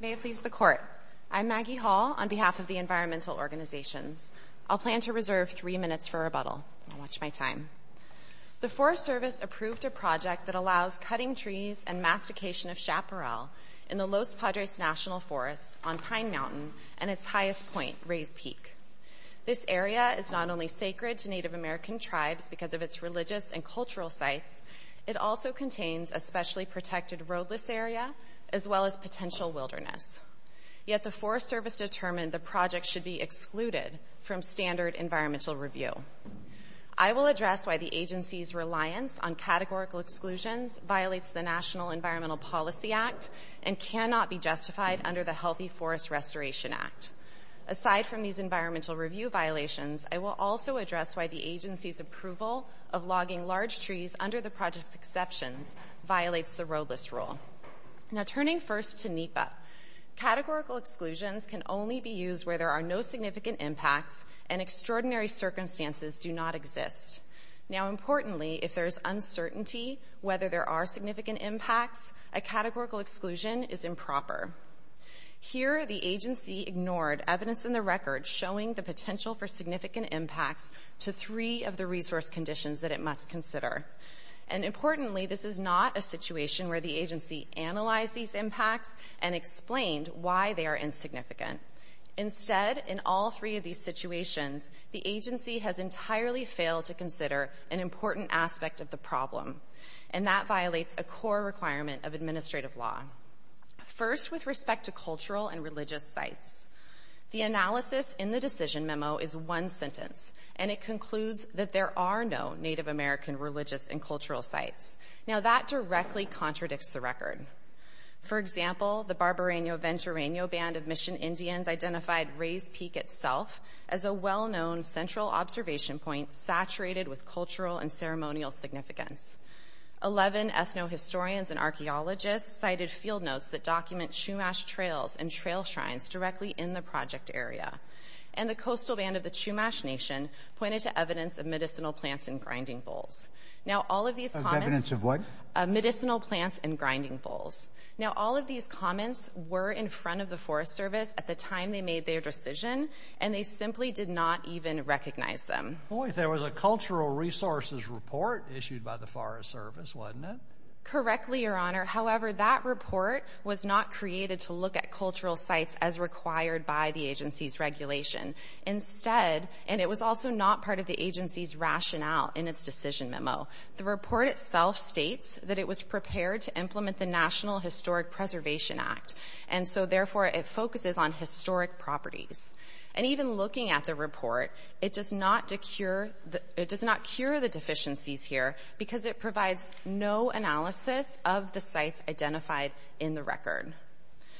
May it please the Court, I'm Maggie Hall on behalf of the Environmental Organizations. I'll plan to reserve three minutes for rebuttal. Watch my time. The Forest Service approved a project that allows cutting trees and mastication of chaparral in the Los Padres National Forest on Pine Mountain and its highest point, Rays Peak. This area is not only sacred to Native American tribes because of its religious and cultural sites, it also contains a specially protected roadless area as well as potential wilderness. Yet the Forest Service determined the project should be excluded from standard environmental review. I will address why the agency's reliance on categorical exclusions violates the National Environmental Policy Act and cannot be justified under the Healthy Forest Restoration Act. Aside from these environmental review violations, I will also address why the agency's approval of logging large trees under the project's exceptions violates the roadless rule. Now turning first to NEPA, categorical exclusions can only be used where there are no significant impacts and extraordinary circumstances do not exist. Now importantly, if there is uncertainty whether there are significant impacts, a categorical exclusion is improper. Here the agency ignored evidence in the record showing the potential for significant impacts to three of the resource conditions that it must consider. And importantly, this is not a situation where the agency analyzed these impacts and explained why they are insignificant. Instead, in all three of these situations, the agency has entirely failed to consider an important aspect of the problem, and that violates a core requirement of administrative law. First, with respect to cultural and religious sites, the analysis in the decision memo is one sentence, and it concludes that there are no Native American religious and cultural sites. Now that directly contradicts the record. For example, the Barbaraino-Venturaino Band of Mission Indians identified Rays Peak itself as a well-known central observation point saturated with cultural and ceremonial significance. Eleven ethno-historians and archaeologists cited field notes that document Chumash trails and trail shrines directly in the project area. And the Coastal Band of the Chumash Nation pointed to evidence of medicinal plants and grinding bowls. Now all of these comments... Of evidence of what? Medicinal plants and grinding bowls. Now all of these comments were in front of the Forest Service at the time they made their decision, and they simply did not even recognize them. Boy, there was a cultural resources report issued by the Forest Service, wasn't it? Correctly, Your Honor. However, that report was not created to look at cultural sites as required by the agency's regulation. Instead, and it was also not part of the agency's rationale in its decision memo, the report itself states that it was prepared to implement the National Historic Preservation Act, and so therefore it focuses on historic properties. And even looking at the report, it does not cure the deficiencies here because it provides no analysis of the sites identified in the record.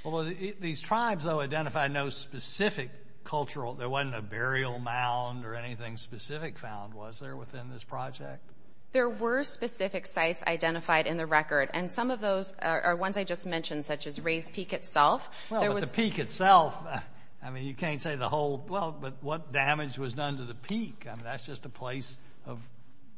Well, these tribes, though, identified no specific cultural... There wasn't a burial mound or anything specific found, was there, within this project? There were specific sites identified in the record, and some of those are ones I just mentioned, such as Ray's Peak itself. Well, but the peak itself, I mean, you can't say the whole, well, but what damage was done to the peak? I mean, that's just a place of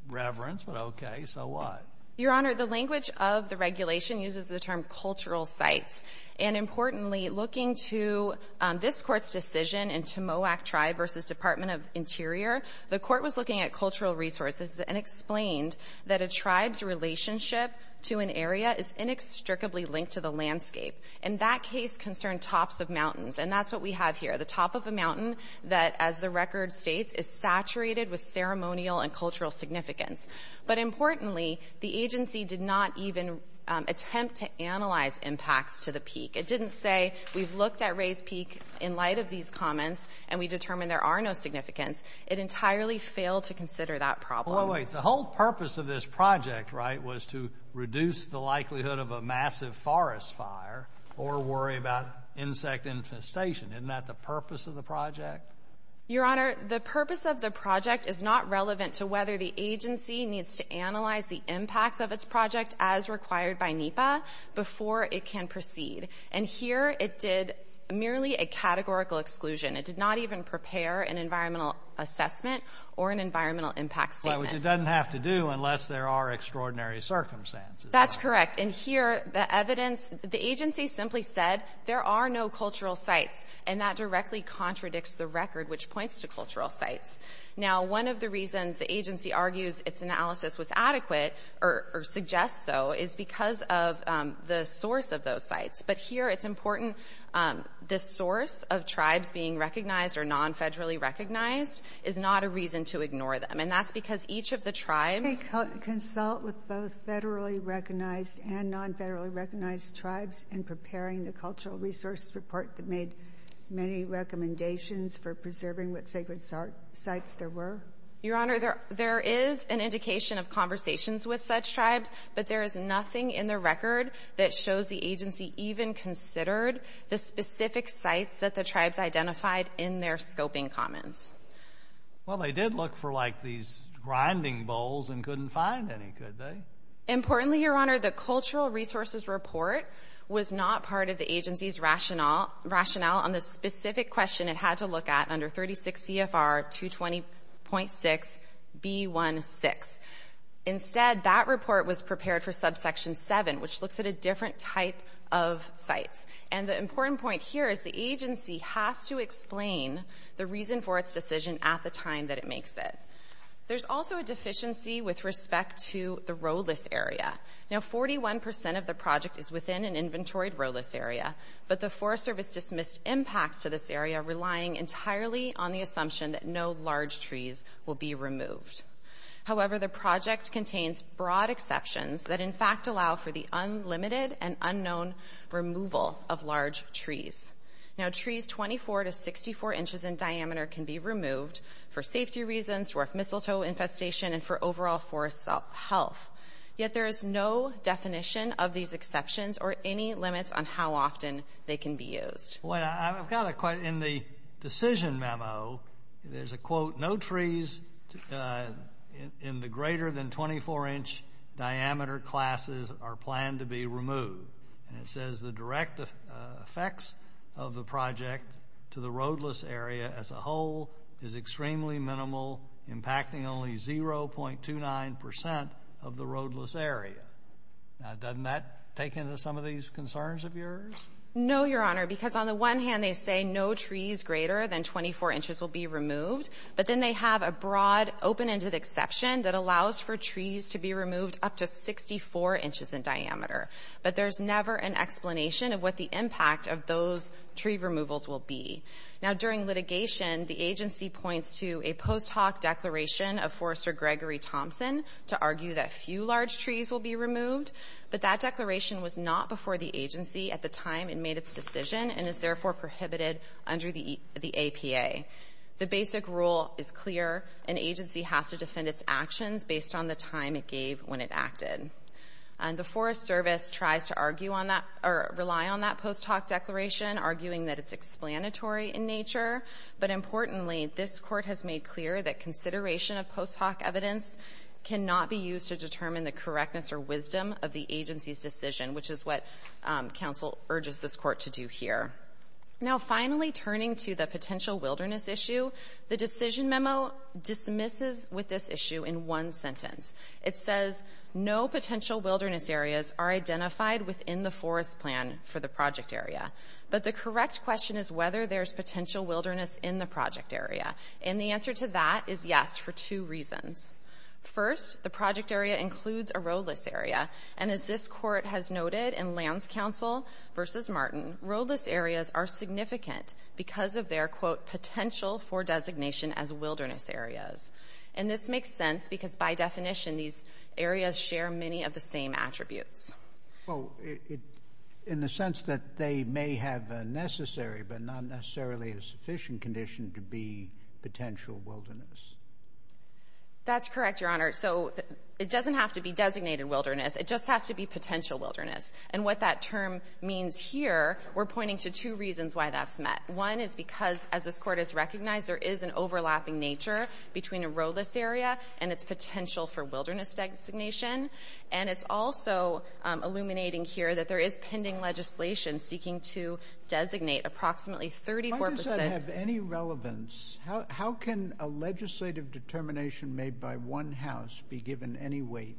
reverence, but okay, so what? Your Honor, the language of the regulation uses the term cultural sites. And importantly, looking to this Court's decision in Timoac Tribe versus Department of Interior, the Court was looking at cultural resources and explained that a tribe's relationship to an area is inextricably linked to the landscape. And that case concerned tops of mountains, and that's what we have here, the top of a mountain that, as the record states, is saturated with ceremonial and cultural significance. But importantly, the agency did not even attempt to analyze impacts to the peak. It didn't say we've looked at Ray's Peak in light of these comments and we determined there are no significance. It entirely failed to consider that problem. Well, wait, the whole purpose of this project, right, was to reduce the likelihood of a massive forest fire or worry about insect infestation. Isn't that the purpose of the project? Your Honor, the purpose of the project is not relevant to whether the agency needs to analyze the impacts of its project as required by NEPA before it can proceed. And here it did merely a categorical exclusion. It did not even prepare an environmental assessment or an environmental impact statement. Well, which it doesn't have to do unless there are extraordinary circumstances. That's correct. And here the evidence, the agency simply said there are no cultural sites, and that directly contradicts the record which points to cultural sites. Now, one of the reasons the agency argues its analysis was adequate or suggests so is because of the source of those sites. But here it's important this source of tribes being recognized or non-federally recognized is not a reason to ignore them. And that's because each of the tribes — Consult with both federally recognized and non-federally recognized tribes in preparing the cultural resource report that made many recommendations for preserving what sacred sites there were. Your Honor, there is an indication of conversations with such tribes, but there is nothing in the record that shows the agency even considered the specific sites that the tribes identified in their scoping comments. Well, they did look for, like, these grinding bowls and couldn't find any, could they? Importantly, Your Honor, the cultural resources report was not part of the agency's rationale on the specific question it had to look at under 36 CFR 220.6B16. Instead, that report was prepared for subsection 7, which looks at a different type of sites. And the important point here is the agency has to explain the reason for its decision at the time that it makes it. There's also a deficiency with respect to the rowless area. Now, 41 percent of the project is within an inventoried rowless area, but the Forest Service dismissed impacts to this area relying entirely on the assumption that no large trees will be removed. However, the project contains broad exceptions that in fact allow for the removal of large trees. Now, trees 24 to 64 inches in diameter can be removed for safety reasons, dwarf mistletoe infestation, and for overall forest health. Yet there is no definition of these exceptions or any limits on how often they can be used. Well, I've got a question. In the decision memo, there's a quote, no trees in the greater than 24-inch diameter classes are planned to be removed. And it says the direct effects of the project to the rowless area as a whole is extremely minimal, impacting only 0.29 percent of the rowless area. Now, doesn't that take into some of these concerns of yours? No, Your Honor, because on the one hand, they say no trees greater than 24 inches will be removed. But then they have a broad open-ended exception that allows for trees to be removed up to 64 inches in diameter. But there's never an explanation of what the impact of those tree removals will be. Now, during litigation, the agency points to a post hoc declaration of Forester Gregory Thompson to argue that few large trees will be removed. But that declaration was not before the agency at the time it made its decision and is therefore prohibited under the APA. The basic rule is clear. An agency has to defend its actions based on the time it gave when it acted. And the Forest Service tries to argue on that or rely on that post hoc declaration arguing that it's explanatory in nature. But importantly, this Court has made clear that consideration of post hoc evidence cannot be used to determine the correctness or wisdom of the agency's decision, which is what counsel urges this Court to do here. Now, finally, turning to the potential wilderness issue, the decision memo dismisses with this issue in one sentence. It says, no potential wilderness areas are identified within the forest plan for the project area. But the correct question is whether there's potential wilderness in the project area. And the answer to that is yes for two reasons. First, the project area includes a roadless area. And as this Court has noted in Lands Council v. Martin, roadless areas are significant because of their, quote, potential for designation as wilderness areas. And this makes sense because, by definition, these areas share many of the same attributes. Well, in the sense that they may have a necessary but not necessarily a sufficient condition to be potential wilderness. That's correct, Your Honor. So it doesn't have to be designated wilderness. It just has to be potential wilderness. And what that term means here, we're pointing to two reasons why that's met. One is because, as this Court has recognized, there is an overlapping nature between a roadless area and its potential for wilderness designation. And it's also illuminating here that there is pending legislation seeking to designate approximately 34 percent. Why does that have any relevance? How can a legislative determination made by one house be given any weight?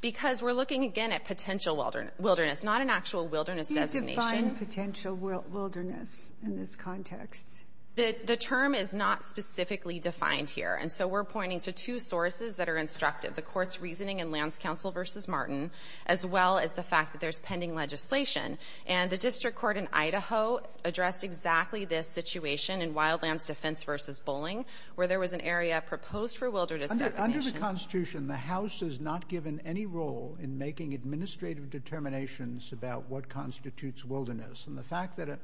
Because we're looking, again, at potential wilderness, not an actual wilderness designation. But how do you define potential wilderness in this context? The term is not specifically defined here. And so we're pointing to two sources that are instructive, the Court's reasoning in Lance Counsel v. Martin, as well as the fact that there's pending legislation. And the district court in Idaho addressed exactly this situation in Wildlands Defense v. Bolling, where there was an area proposed for wilderness designation. Under the Constitution, the House is not given any role in making administrative determinations about what constitutes wilderness. And the fact that a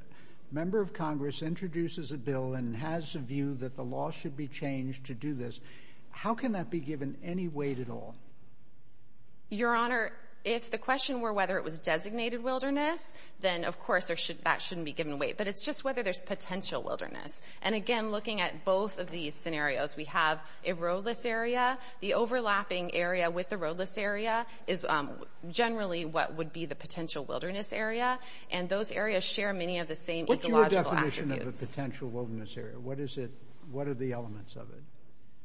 member of Congress introduces a bill and has a view that the law should be changed to do this, how can that be given any weight at all? Your Honor, if the question were whether it was designated wilderness, then, of course, that shouldn't be given weight. But it's just whether there's potential wilderness. And, again, looking at both of these scenarios, we have a roadless area. The overlapping area with the roadless area is generally what would be the potential wilderness area. And those areas share many of the same ecological attributes. What's your definition of a potential wilderness area? What is it? What are the elements of it?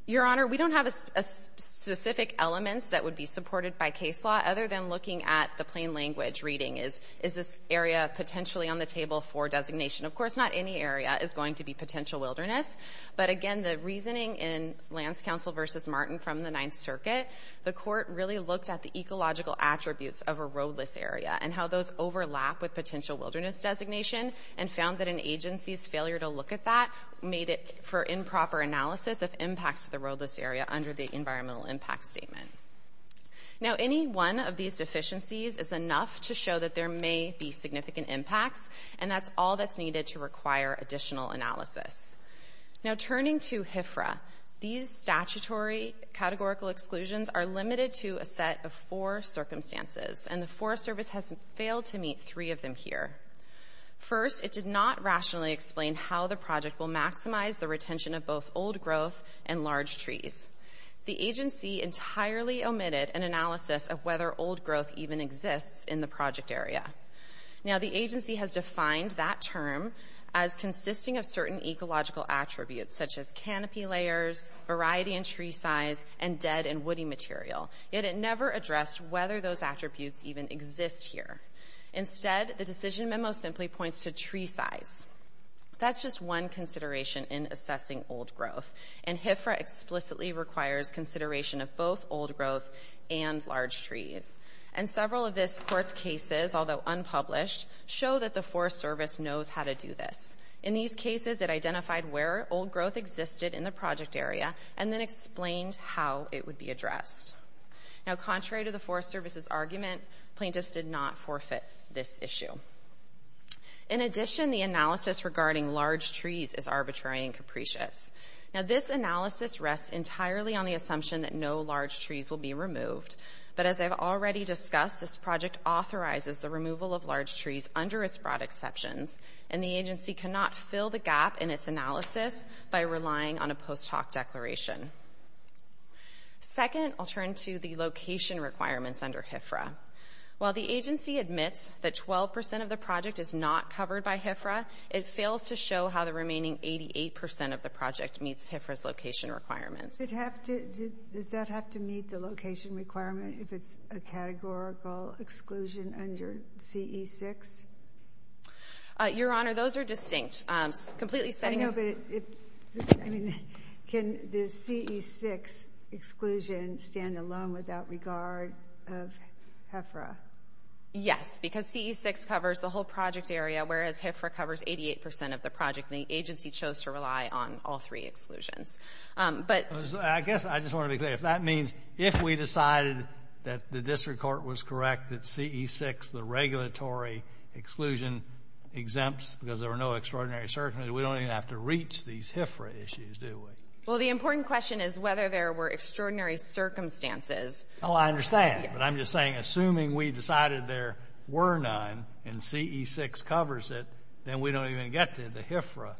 Your Honor, we don't have specific elements that would be supported by case law, other than looking at the plain language reading. Is this area potentially on the table for designation? Of course, not any area is going to be potential wilderness. But, again, the reasoning in Lance Counsel v. Martin from the Ninth Circuit, the court really looked at the ecological attributes of a roadless area and how those overlap with potential wilderness designation and found that an agency's failure to look at that made it for improper analysis of impacts to the roadless area under the environmental impact statement. Now, any one of these deficiencies is enough to show that there may be significant impacts, and that's all that's needed to require additional analysis. Now, turning to HFRA, these statutory categorical exclusions are limited to a set of four circumstances, and the Forest Service has failed to meet three of them here. First, it did not rationally explain how the project will maximize the retention of both old growth and large trees. The agency entirely omitted an analysis of whether old growth even exists in the project area. Now, the agency has defined that term as consisting of certain ecological attributes such as canopy layers, variety in tree size, and dead and woody material, yet it never addressed whether those attributes even exist here. Instead, the decision memo simply points to tree size. That's just one consideration in assessing old growth, and HFRA explicitly requires consideration of both old growth and large trees. And several of this court's cases, although unpublished, show that the Forest Service knows how to do this. In these cases, it identified where old growth existed in the project area and then explained how it would be addressed. Now, contrary to the Forest Service's argument, plaintiffs did not forfeit this issue. In addition, the analysis regarding large trees is arbitrary and capricious. Now, this analysis rests entirely on the assumption that no large trees will be removed, but as I've already discussed, this project authorizes the removal of large trees under its broad exceptions, and the agency cannot fill the gap in its analysis by relying on a post hoc declaration. Second, I'll turn to the location requirements under HFRA. While the agency admits that 12% of the project is not covered by HFRA, it fails to show how the remaining 88% of the project meets HFRA's location requirements. Does that have to meet the location requirement if it's a categorical exclusion under CE6? Your Honor, those are distinct. I know, but can the CE6 exclusion stand alone without regard of HFRA? Yes, because CE6 covers the whole project area, whereas HFRA covers 88% of the project, and the agency chose to rely on all three exclusions. I guess I just want to be clear. If that means if we decided that the district court was correct that CE6, the regulatory exclusion exempts because there were no extraordinary circumstances, we don't even have to reach these HFRA issues, do we? Well, the important question is whether there were extraordinary circumstances. Oh, I understand, but I'm just saying assuming we decided there were none and CE6 covers it, then we don't even get to the HFRA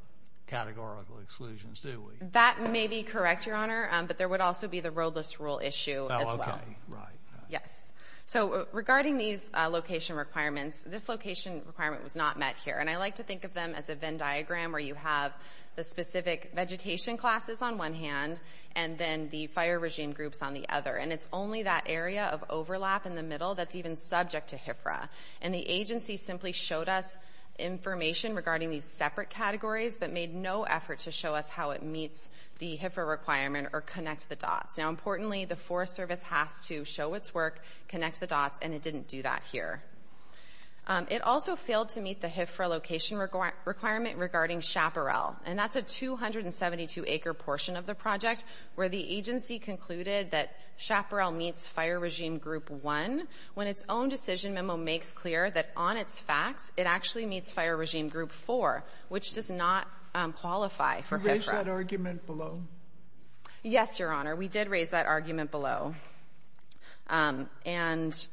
categorical exclusions, do we? That may be correct, Your Honor, but there would also be the roadless rule issue as well. Oh, okay, right. Yes. So regarding these location requirements, this location requirement was not met here, and I like to think of them as a Venn diagram where you have the specific vegetation classes on one hand and then the fire regime groups on the other, and it's only that area of overlap in the middle that's even subject to HFRA, and the agency simply showed us information regarding these separate categories but made no effort to show us how it meets the HFRA requirement or connect the dots. Now, importantly, the Forest Service has to show its work, connect the dots, and it didn't do that here. It also failed to meet the HFRA location requirement regarding Chaparral, and that's a 272-acre portion of the project where the agency concluded that Chaparral meets fire regime group 1 when its own decision memo makes clear that on its facts it actually meets fire regime group 4, which does not qualify for HFRA. Sotomayor, did you raise that argument below? Yes, Your Honor. We did raise that argument below and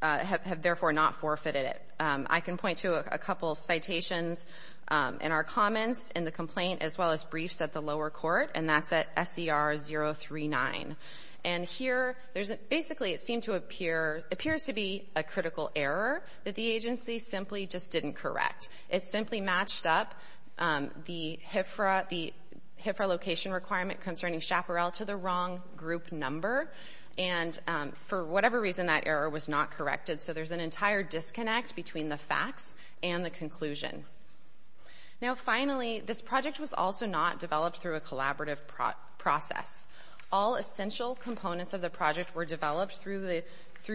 have therefore not forfeited it. I can point to a couple of citations in our comments in the complaint as well as briefs at the lower court, and that's at SBR 039. And here, there's a — basically, it seemed to appear — appears to be a critical error that the agency simply just didn't correct. It simply matched up the HFRA location requirement concerning Chaparral to the wrong group number, and for whatever reason, that error was not corrected. So there's an entire disconnect between the facts and the conclusion. Now, finally, this project was also not developed through a collaborative process. All essential components of the project were developed through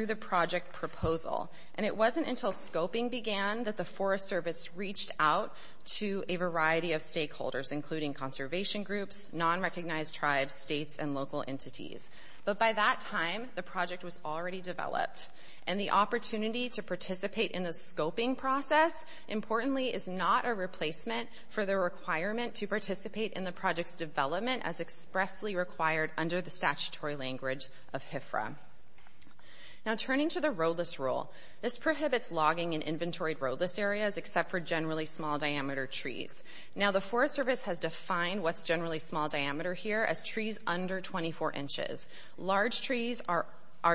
the project proposal, and it wasn't until scoping began that the Forest Service reached out to a variety of stakeholders, including conservation groups, non-recognized tribes, states, and local entities. But by that time, the project was already developed, and the opportunity to participate in the scoping process, importantly, is not a replacement for the requirement to participate in the project's development as expressly required under the statutory language of HFRA. Now, turning to the roadless rule, this prohibits logging in inventory roadless areas except for generally small-diameter trees. Now, the Forest Service has defined what's generally small-diameter here as trees under 24 inches. Large trees are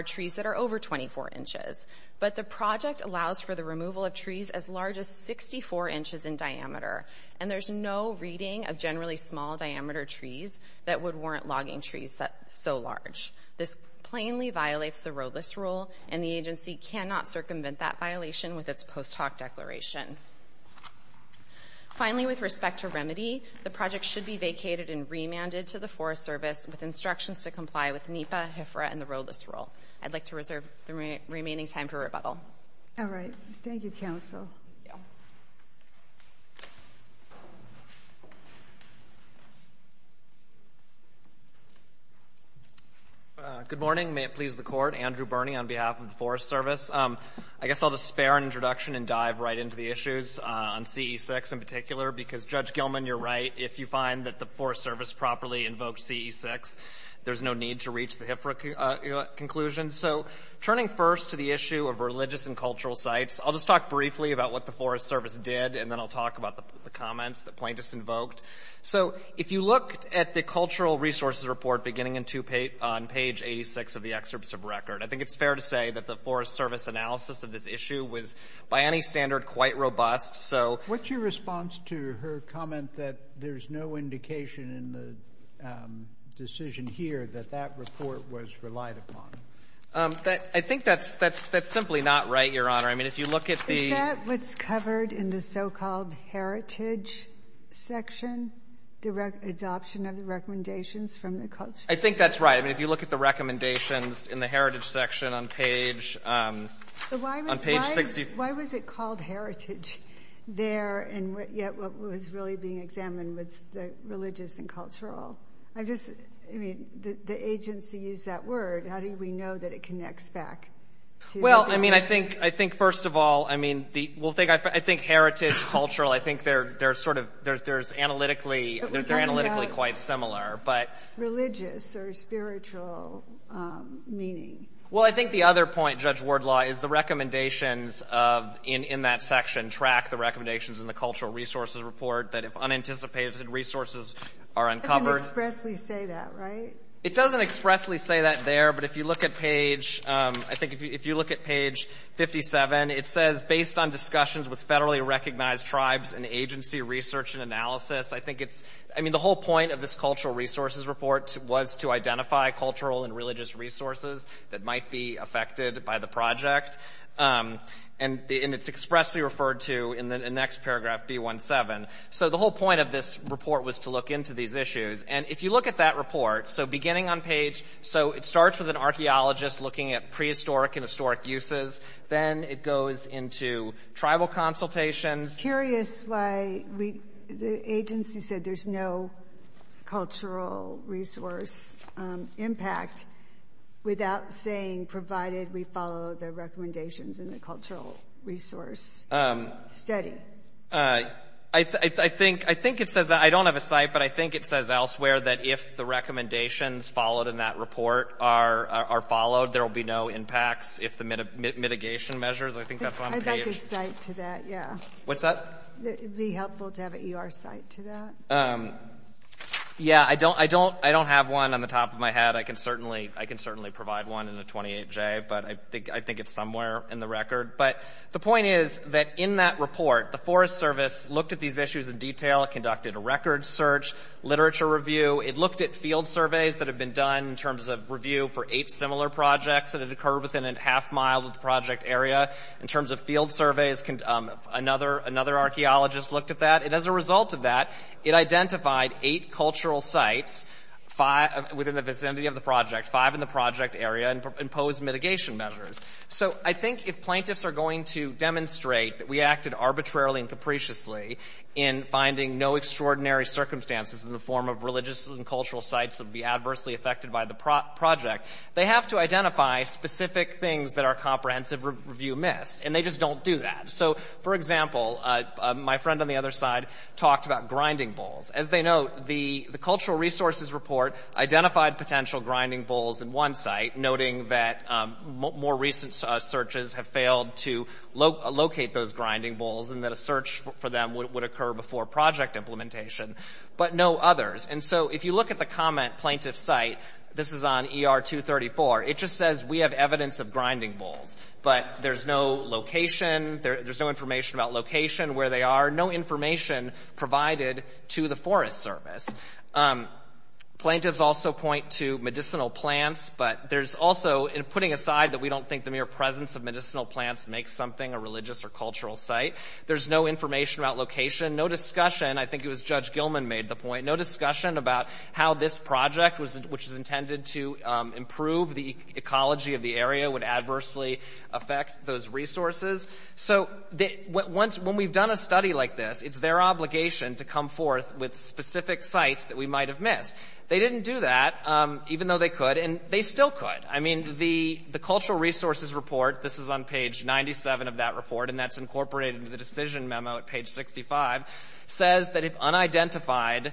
trees that are over 24 inches, but the project allows for the removal of trees as large as 64 inches in diameter, and there's no reading of generally small-diameter trees that would warrant logging trees so large. This plainly violates the roadless rule, and the agency cannot circumvent that violation with its post-hoc declaration. Finally, with respect to remedy, the project should be vacated and remanded to the Forest Service with instructions to comply with NEPA, HFRA, and the roadless rule. I'd like to reserve the remaining time for rebuttal. All right. Thank you, counsel. Good morning. May it please the Court. Andrew Birney on behalf of the Forest Service. I guess I'll just spare an introduction and dive right into the issues on CE-6 in particular, because, Judge Gilman, you're right. If you find that the Forest Service properly invoked CE-6, there's no need to reach the HFRA conclusion. So turning first to the issue of religious and cultural sites, I'll just talk briefly about what the Forest Service did, and then I'll talk about the comments that plaintiffs invoked. So if you look at the cultural resources report beginning on page 86 of the excerpt of the record, I think it's fair to say that the Forest Service analysis of this issue was, by any standard, quite robust. What's your response to her comment that there's no indication in the decision here that that report was relied upon? I think that's simply not right, Your Honor. I mean, if you look at the — Is that what's covered in the so-called heritage section, the adoption of the recommendations from the cultural — I think that's right. I mean, if you look at the recommendations in the heritage section on page — Why was it called heritage there, and yet what was really being examined was the religious and cultural? I just — I mean, the agency used that word. How do we know that it connects back to — Well, I mean, I think, first of all, I mean, we'll think — I think heritage, cultural, I think they're sort of — they're analytically quite similar, but — Religious or spiritual meaning. Well, I think the other point, Judge Wardlaw, is the recommendations of — in that section, track the recommendations in the cultural resources report that if unanticipated resources are uncovered — It doesn't expressly say that, right? It doesn't expressly say that there, but if you look at page — I think if you look at page 57, it says, based on discussions with federally recognized tribes and agency research and analysis, I think it's — I mean, the whole point of this cultural resources report was to identify cultural and religious resources that might be affected by the project. And it's expressly referred to in the next paragraph, B17. So the whole point of this report was to look into these issues. And if you look at that report, so beginning on page — so it starts with an archaeologist looking at prehistoric and historic uses. Then it goes into tribal consultations. I'm curious why the agency said there's no cultural resource impact without saying, provided we follow the recommendations in the cultural resource study. I think it says — I don't have a site, but I think it says elsewhere that if the recommendations followed in that report are followed, there will be no impacts if the mitigation measures — I think that's on page. I'd like a site to that, yeah. What's that? It would be helpful to have an ER site to that. Yeah, I don't have one on the top of my head. I can certainly provide one in the 28J, but I think it's somewhere in the record. But the point is that in that report, the Forest Service looked at these issues in detail, conducted a record search, literature review. It looked at field surveys that have been done in terms of review for eight similar projects that have occurred within a half-mile of the project area. In terms of field surveys, another archaeologist looked at that. And as a result of that, it identified eight cultural sites within the vicinity of the project, five in the project area, and imposed mitigation measures. So I think if plaintiffs are going to demonstrate that we acted arbitrarily and capriciously in finding no extraordinary circumstances in the form of religious and cultural sites that would be adversely affected by the project, they have to identify specific things that our comprehensive review missed. And they just don't do that. So, for example, my friend on the other side talked about grinding bowls. As they note, the cultural resources report identified potential grinding bowls in one site, noting that more recent searches have failed to locate those grinding bowls and that a search for them would occur before project implementation, but no others. And so if you look at the comment plaintiff site, this is on ER 234, it just says we have evidence of grinding bowls, but there's no location, there's no information about location, where they are, no information provided to the Forest Service. Plaintiffs also point to medicinal plants, but there's also, putting aside that we don't think the mere presence of medicinal plants makes something a religious or cultural site, there's no information about location, no discussion, I think it was Judge Gilman made the point, no discussion about how this project, which is intended to improve the ecology of the area, would adversely affect those resources. So when we've done a study like this, it's their obligation to come forth with specific sites that we might have missed. They didn't do that, even though they could, and they still could. I mean, the cultural resources report, this is on page 97 of that report, and that's incorporated into the decision memo at page 65, says that if unidentified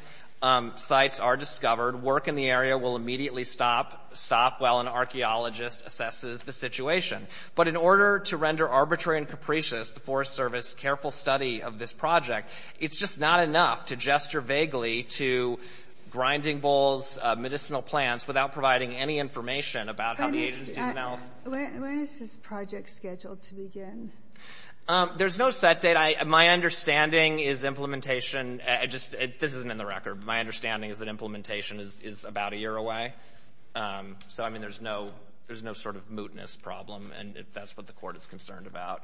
sites are discovered, work in the area will immediately stop, stop while an archaeologist assesses the situation. But in order to render arbitrary and capricious the Forest Service's careful study of this project, it's just not enough to gesture vaguely to grinding bowls, medicinal plants, without providing any information about how the agency smells. When is this project scheduled to begin? There's no set date. My understanding is implementation, this isn't in the record, but my understanding is that implementation is about a year away. So, I mean, there's no sort of mootness problem, and that's what the Court is concerned about.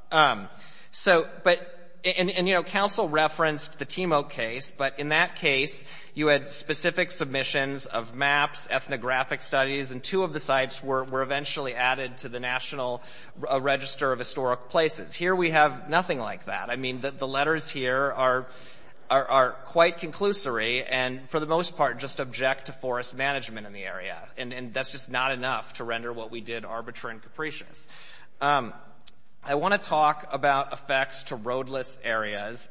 And, you know, counsel referenced the Timok case, but in that case you had specific submissions of maps, ethnographic studies, and two of the sites were eventually added to the National Register of Historic Places. Here we have nothing like that. I mean, the letters here are quite conclusory and for the most part just object to forest management in the area, and that's just not enough to render what we did arbitrary and capricious. I want to talk about effects to roadless areas.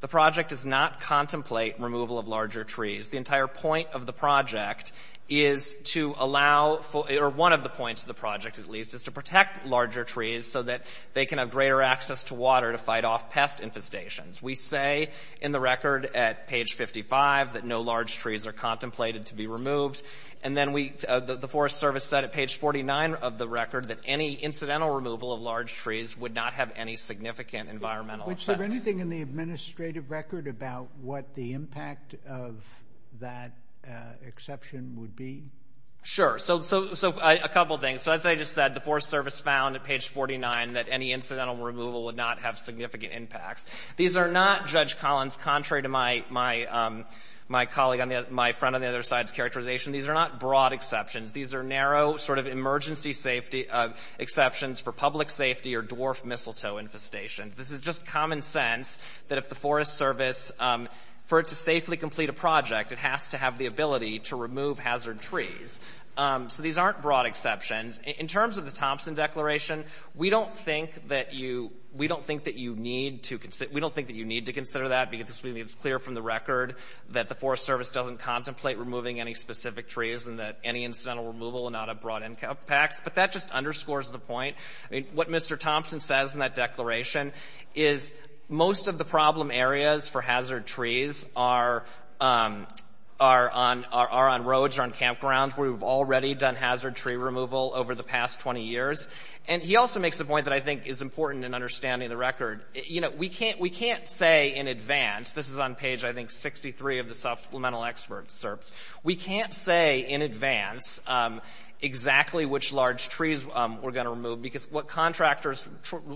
The project does not contemplate removal of larger trees. The entire point of the project is to allow, or one of the points of the project at least, is to protect larger trees so that they can have greater access to water to fight off pest infestations. We say in the record at page 55 that no large trees are contemplated to be removed, and then the Forest Service said at page 49 of the record that any incidental removal of large trees would not have any significant environmental effects. Is there anything in the administrative record about what the impact of that exception would be? So a couple things. So as I just said, the Forest Service found at page 49 that any incidental removal would not have significant impacts. These are not, Judge Collins, contrary to my colleague, my friend on the other side's characterization, these are not broad exceptions. These are narrow sort of emergency safety exceptions for public safety or dwarf mistletoe infestations. This is just common sense that if the Forest Service, for it to safely complete a project, it has to have the ability to remove hazard trees. So these aren't broad exceptions. In terms of the Thompson Declaration, we don't think that you need to consider that, because it's clear from the record that the Forest Service doesn't contemplate removing any specific trees and that any incidental removal would not have broad impacts. But that just underscores the point. I mean, what Mr. Thompson says in that declaration is most of the problem areas for hazard trees are on roads or on campgrounds where we've already done hazard tree removal over the past 20 years. And he also makes a point that I think is important in understanding the record. You know, we can't say in advance, this is on page, I think, 63 of the Supplemental Experts, we can't say in advance exactly which large trees we're going to remove, because what contractors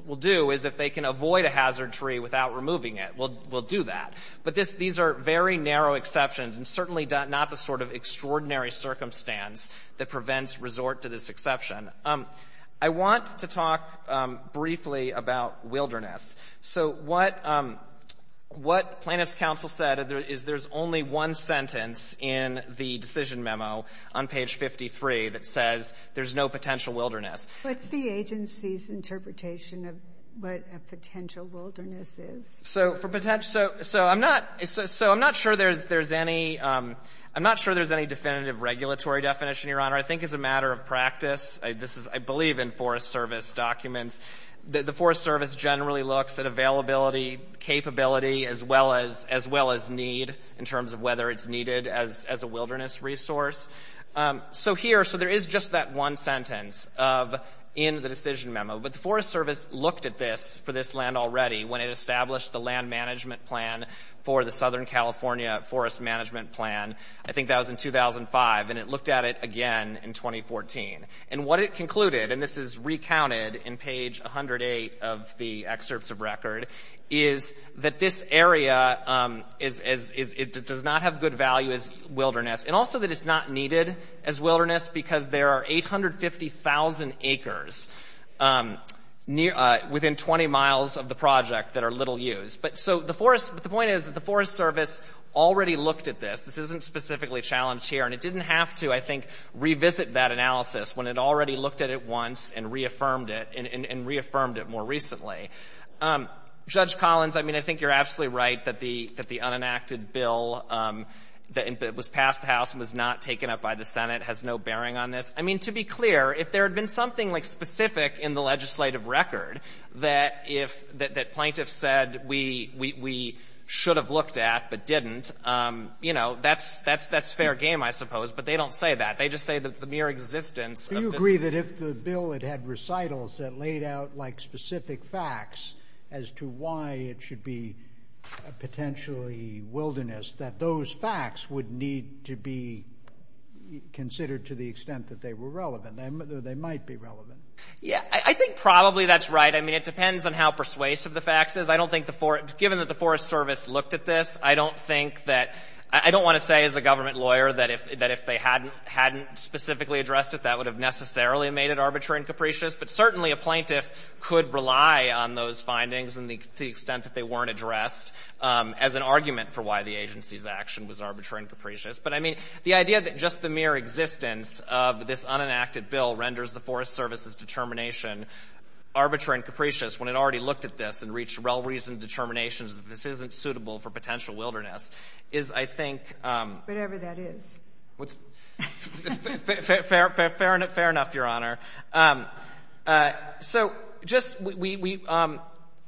will do is if they can avoid a hazard tree without removing it, we'll do that. But these are very narrow exceptions and certainly not the sort of extraordinary circumstance that prevents resort to this exception. I want to talk briefly about wilderness. So what Plaintiffs' Counsel said is there's only one sentence in the decision memo on page 53 that says there's no potential wilderness. Ginsburg. What's the agency's interpretation of what a potential wilderness is? So for potential so I'm not so I'm not sure there's there's any I'm not sure there's any definitive regulatory definition, Your Honor. I think as a matter of practice, this is I believe in Forest Service documents, the Forest Service generally looks at availability, capability as well as as well as need in terms of whether it's needed as a wilderness resource. So here so there is just that one sentence of in the decision memo, but the Forest Service looked at this for this land already when it established the land management plan for the Southern California Forest Management Plan. I think that was in 2005, and it looked at it again in 2014. And what it concluded, and this is recounted in page 108 of the excerpts of record, is that this area is is is it does not have good value as wilderness, and also that it's not needed as wilderness because there are 850,000 acres near within 20 miles of the project that are little used. But so the forest but the point is that the Forest Service already looked at this. This isn't specifically challenged here, and it didn't have to, I think, revisit that analysis when it already looked at it once and reaffirmed it and reaffirmed it more recently. Judge Collins, I mean, I think you're absolutely right that the that the unenacted bill that was passed the House and was not taken up by the Senate has no bearing on this. I mean, to be clear, if there had been something like specific in the legislative record that if that that plaintiff said we we we should have looked at but didn't, you know, that's that's that's fair game, I suppose. But they don't say that. They just say that the mere existence. Do you agree that if the bill it had recitals that laid out like specific facts as to why it should be potentially wilderness, that those facts would need to be considered to the extent that they were relevant. They might be relevant. Yeah, I think probably that's right. I mean, it depends on how persuasive the facts is. I don't think the given that the Forest Service looked at this. I don't think that I don't want to say as a government lawyer that if that if they hadn't hadn't specifically addressed it, that would have necessarily made it arbitrary and capricious. But certainly a plaintiff could rely on those findings and the extent that they weren't addressed as an argument for why the agency's action was arbitrary and capricious. But I mean, the idea that just the mere existence of this unenacted bill renders the Forest Service's determination arbitrary and capricious when it already looked at this and reached well-reasoned determinations that this isn't suitable for potential wilderness is, I think. Whatever that is. Fair enough, Your Honor. So just we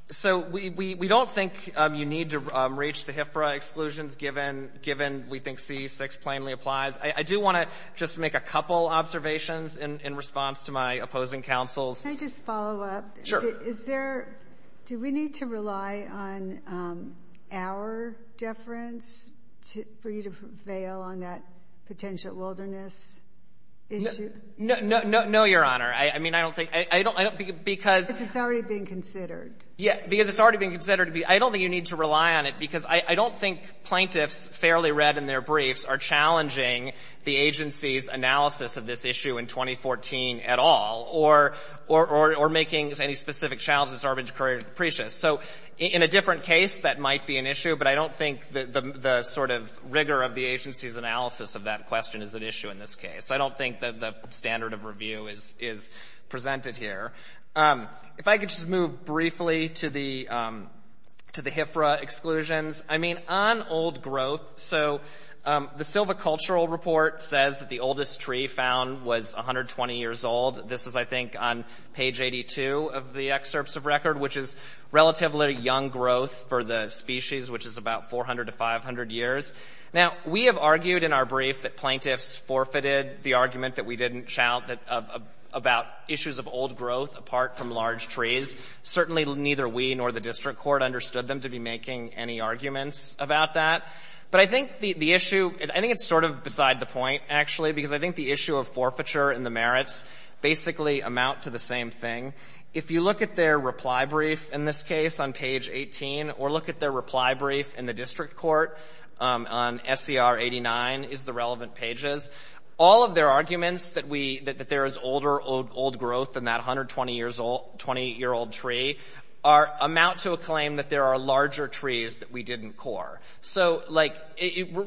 so we don't think you need to reach the HFRA exclusions given we think C-6 plainly applies. I do want to just make a couple observations in response to my opposing counsels. Can I just follow up? Sure. Is there do we need to rely on our deference for you to prevail on that potential wilderness issue? No, no, no, no, Your Honor. I mean, I don't think I don't I don't because. Because it's already being considered. Yeah. Because it's already being considered. I don't think you need to rely on it because I don't think plaintiffs fairly read in their briefs are challenging the agency's analysis of this issue in 2014 at all or making any specific challenges arbitrary and capricious. So in a different case, that might be an issue, but I don't think the sort of rigor of the agency's analysis of that question is an issue in this case. I don't think that the standard of review is presented here. If I could just move briefly to the HFRA exclusions. I mean, on old growth, so the Silva Cultural Report says that the oldest tree found was 120 years old. This is, I think, on page 82 of the excerpts of record, which is relatively young growth for the species, which is about 400 to 500 years. Now, we have argued in our brief that plaintiffs forfeited the argument that we didn't shout about issues of old growth apart from large trees. Certainly neither we nor the district court understood them to be making any arguments about that. But I think the issue, I think it's sort of beside the point, actually, because I think the issue of forfeiture and the merits basically amount to the same thing. If you look at their reply brief in this case on page 18 or look at their reply brief in the district court on SCR 89 is the relevant pages, all of their arguments that there is older old growth than that 120-year-old tree amount to a claim that there are larger trees that we didn't core. So, like,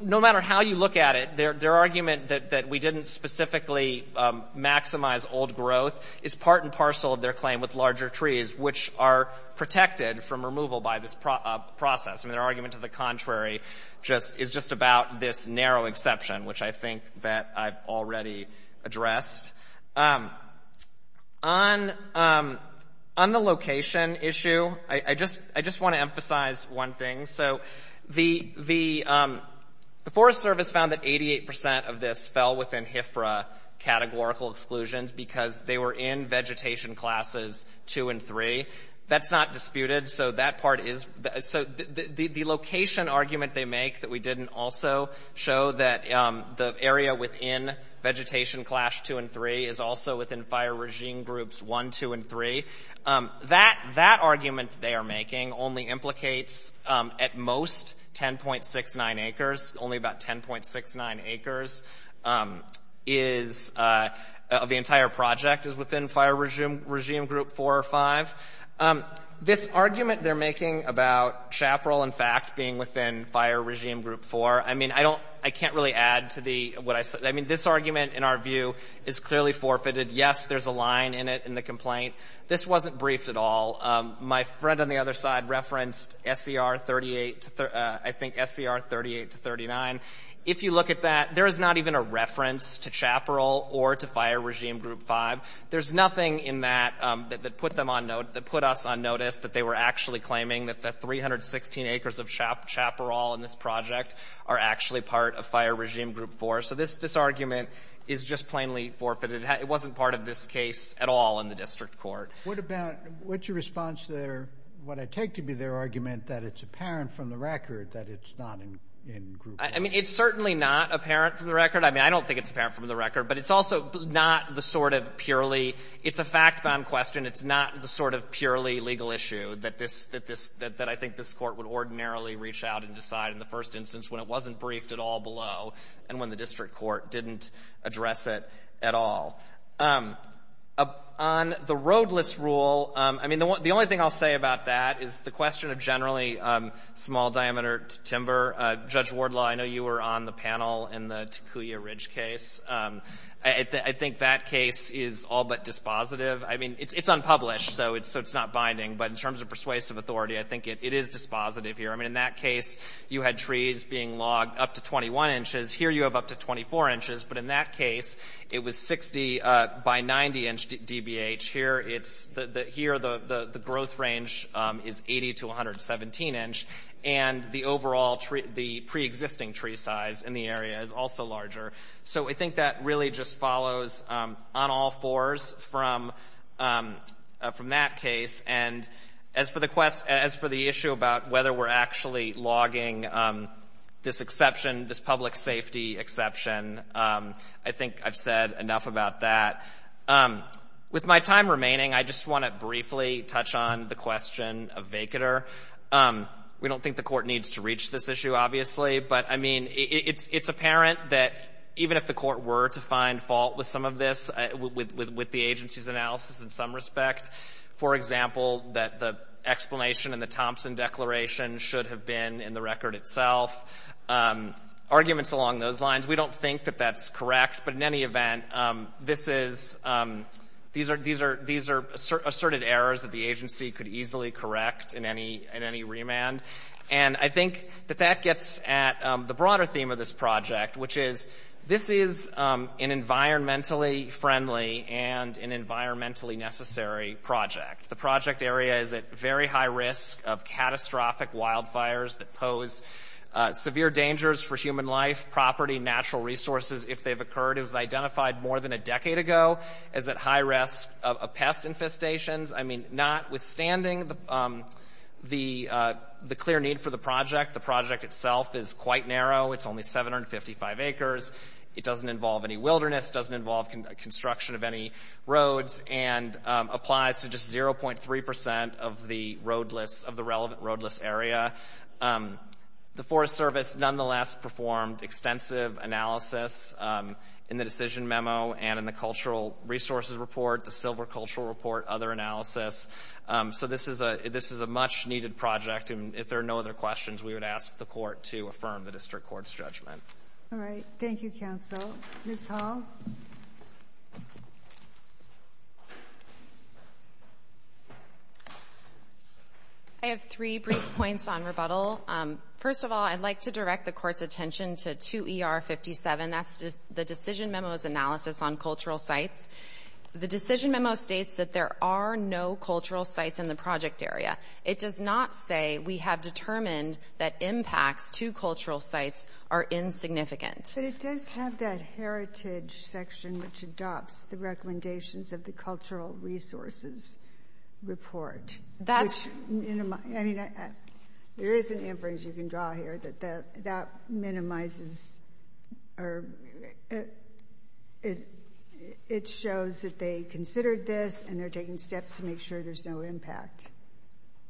no matter how you look at it, their argument that we didn't specifically maximize old growth is part and parcel of their claim with larger trees, which are protected from removal by this process. I mean, their argument to the contrary is just about this narrow exception, which I think that I've already addressed. On the location issue, I just want to emphasize one thing. So the Forest Service found that 88 percent of this fell within HFRA categorical exclusions because they were in vegetation classes 2 and 3. That's not disputed. So that part is so the location argument they make that we didn't also show that the area within vegetation class 2 and 3 is also within fire regime groups 1, 2, and 3, that argument they are making only implicates at most 10.69 acres, only about 10.69 acres of the entire project is within fire regime group 4 or 5. This argument they're making about Chaparral, in fact, being within fire regime group 4, I mean, I don't — I can't really add to the — what I said. I mean, this argument, in our view, is clearly forfeited. Yes, there's a line in it in the complaint. This wasn't briefed at all. My friend on the other side referenced SCR 38 to — I think SCR 38 to 39. If you look at that, there is not even a reference to Chaparral or to fire regime group 5. There's nothing in that that put them on — that put us on notice that they were actually claiming that the 316 acres of Chaparral in this project are actually part of fire regime group 4. So this argument is just plainly forfeited. It wasn't part of this case at all in the district court. What about — what's your response to their — what I take to be their argument that it's apparent from the record that it's not in group 4? I mean, it's certainly not apparent from the record. I mean, I don't think it's apparent from the record, but it's also not the sort of purely — it's a fact-bound question. It's not the sort of purely legal issue that this — that this — that I think this Court would ordinarily reach out and decide in the first instance when it wasn't briefed at all below and when the district court didn't address it at all. On the roadless rule, I mean, the only thing I'll say about that is the question of generally small-diameter timber. Judge Wardlaw, I know you were on the panel in the Takuya Ridge case. I think that case is all but dispositive. I mean, it's unpublished, so it's not binding. But in terms of persuasive authority, I think it is dispositive here. I mean, in that case, you had trees being logged up to 21 inches. Here you have up to 24 inches. But in that case, it was 60 by 90-inch DBH. Here it's — here the growth range is 80 to 117-inch. And the overall tree — the preexisting tree size in the area is also larger. So I think that really just follows on all fours from that case. And as for the quest — as for the issue about whether we're actually logging this exception, this public safety exception, I think I've said enough about that. With my time remaining, I just want to briefly touch on the question of vacater. We don't think the Court needs to reach this issue, obviously. But, I mean, it's apparent that even if the Court were to find fault with some of this, with the agency's analysis in some respect, for example, that the explanation in the Thompson Declaration should have been in the record itself, arguments along those lines, we don't think that that's correct. But in any event, this is — these are — these are asserted errors that the agency could easily correct in any — in any remand. And I think that that gets at the broader theme of this project, which is this is an environmentally friendly and an environmentally necessary project. The project area is at very high risk of catastrophic wildfires that pose severe dangers for human life, property, natural resources if they've occurred. It was identified more than a decade ago as at high risk of pest infestations. I mean, notwithstanding the clear need for the project, the project itself is quite narrow. It's only 755 acres. It doesn't involve any wilderness, doesn't involve construction of any roads, and applies to just 0.3 percent of the roadless — of the relevant roadless area. The Forest Service nonetheless performed extensive analysis in the decision memo and in the Cultural Resources Report, the Silver Cultural Report, other analysis. So this is a — this is a much-needed project, and if there are no other questions, we would ask the Court to affirm the district court's judgment. All right. Thank you, counsel. Ms. Hall. I have three brief points on rebuttal. First of all, I'd like to direct the Court's attention to 2ER57. That's the decision memo's analysis on cultural sites. The decision memo states that there are no cultural sites in the project area. It does not say we have determined that impacts to cultural sites are insignificant. But it does have that heritage section which adopts the recommendations of the Cultural Resources Report. That's — I mean, there is an inference you can draw here that that minimizes — or it shows that they considered this and they're taking steps to make sure there's no impact.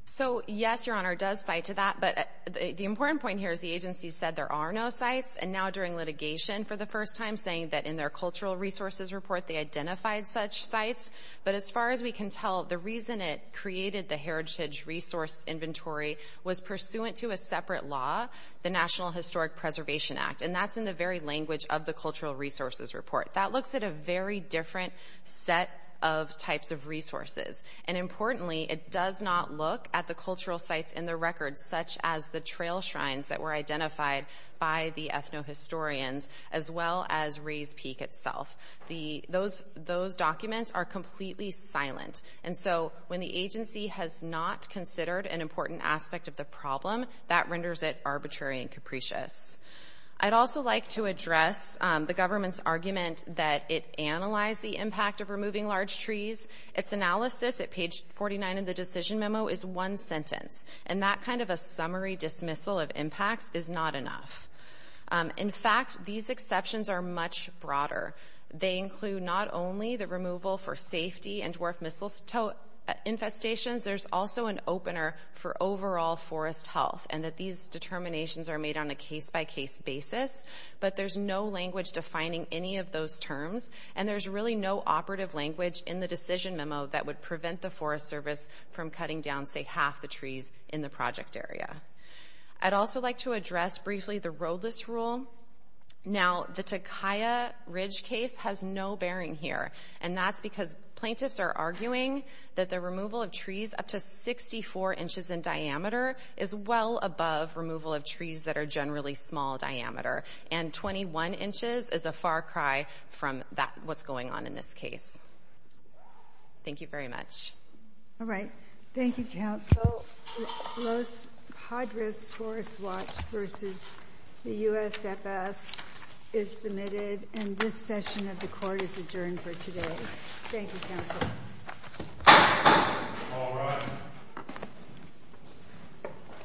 So, yes, Your Honor, it does cite to that, but the important point here is the agency said there are no sites, and now during litigation for the first time saying that in their Cultural Resources Report they identified such sites. But as far as we can tell, the reason it created the heritage resource inventory was pursuant to a separate law, the National Historic Preservation Act. And that's in the very language of the Cultural Resources Report. That looks at a very different set of types of resources. And importantly, it does not look at the cultural sites in the record, such as the trail shrines that were identified by the ethno-historians, as well as Rays Peak itself. The — those documents are completely silent. And so when the agency has not considered an important aspect of the problem, that renders it arbitrary and capricious. I'd also like to address the government's argument that it analyzed the impact of removing large trees. Its analysis at page 49 of the decision memo is one sentence. And that kind of a summary dismissal of impacts is not enough. In fact, these exceptions are much broader. They include not only the removal for safety and dwarf mistletoe infestations. There's also an opener for overall forest health. And that these determinations are made on a case-by-case basis. But there's no language defining any of those terms. And there's really no operative language in the decision memo that would prevent the Forest Service from cutting down, say, half the trees in the project area. I'd also like to address briefly the roadless rule. Now, the Takaya Ridge case has no bearing here. And that's because plaintiffs are arguing that the removal of trees up to 64 inches in diameter is well above removal of trees that are generally small diameter. And 21 inches is a far cry from that — what's going on in this case. Thank you very much. All right. Thank you, Counsel. Los Padres Forest Watch v. The USFS is submitted. And this session of the court is adjourned for today. Thank you, Counsel. All rise.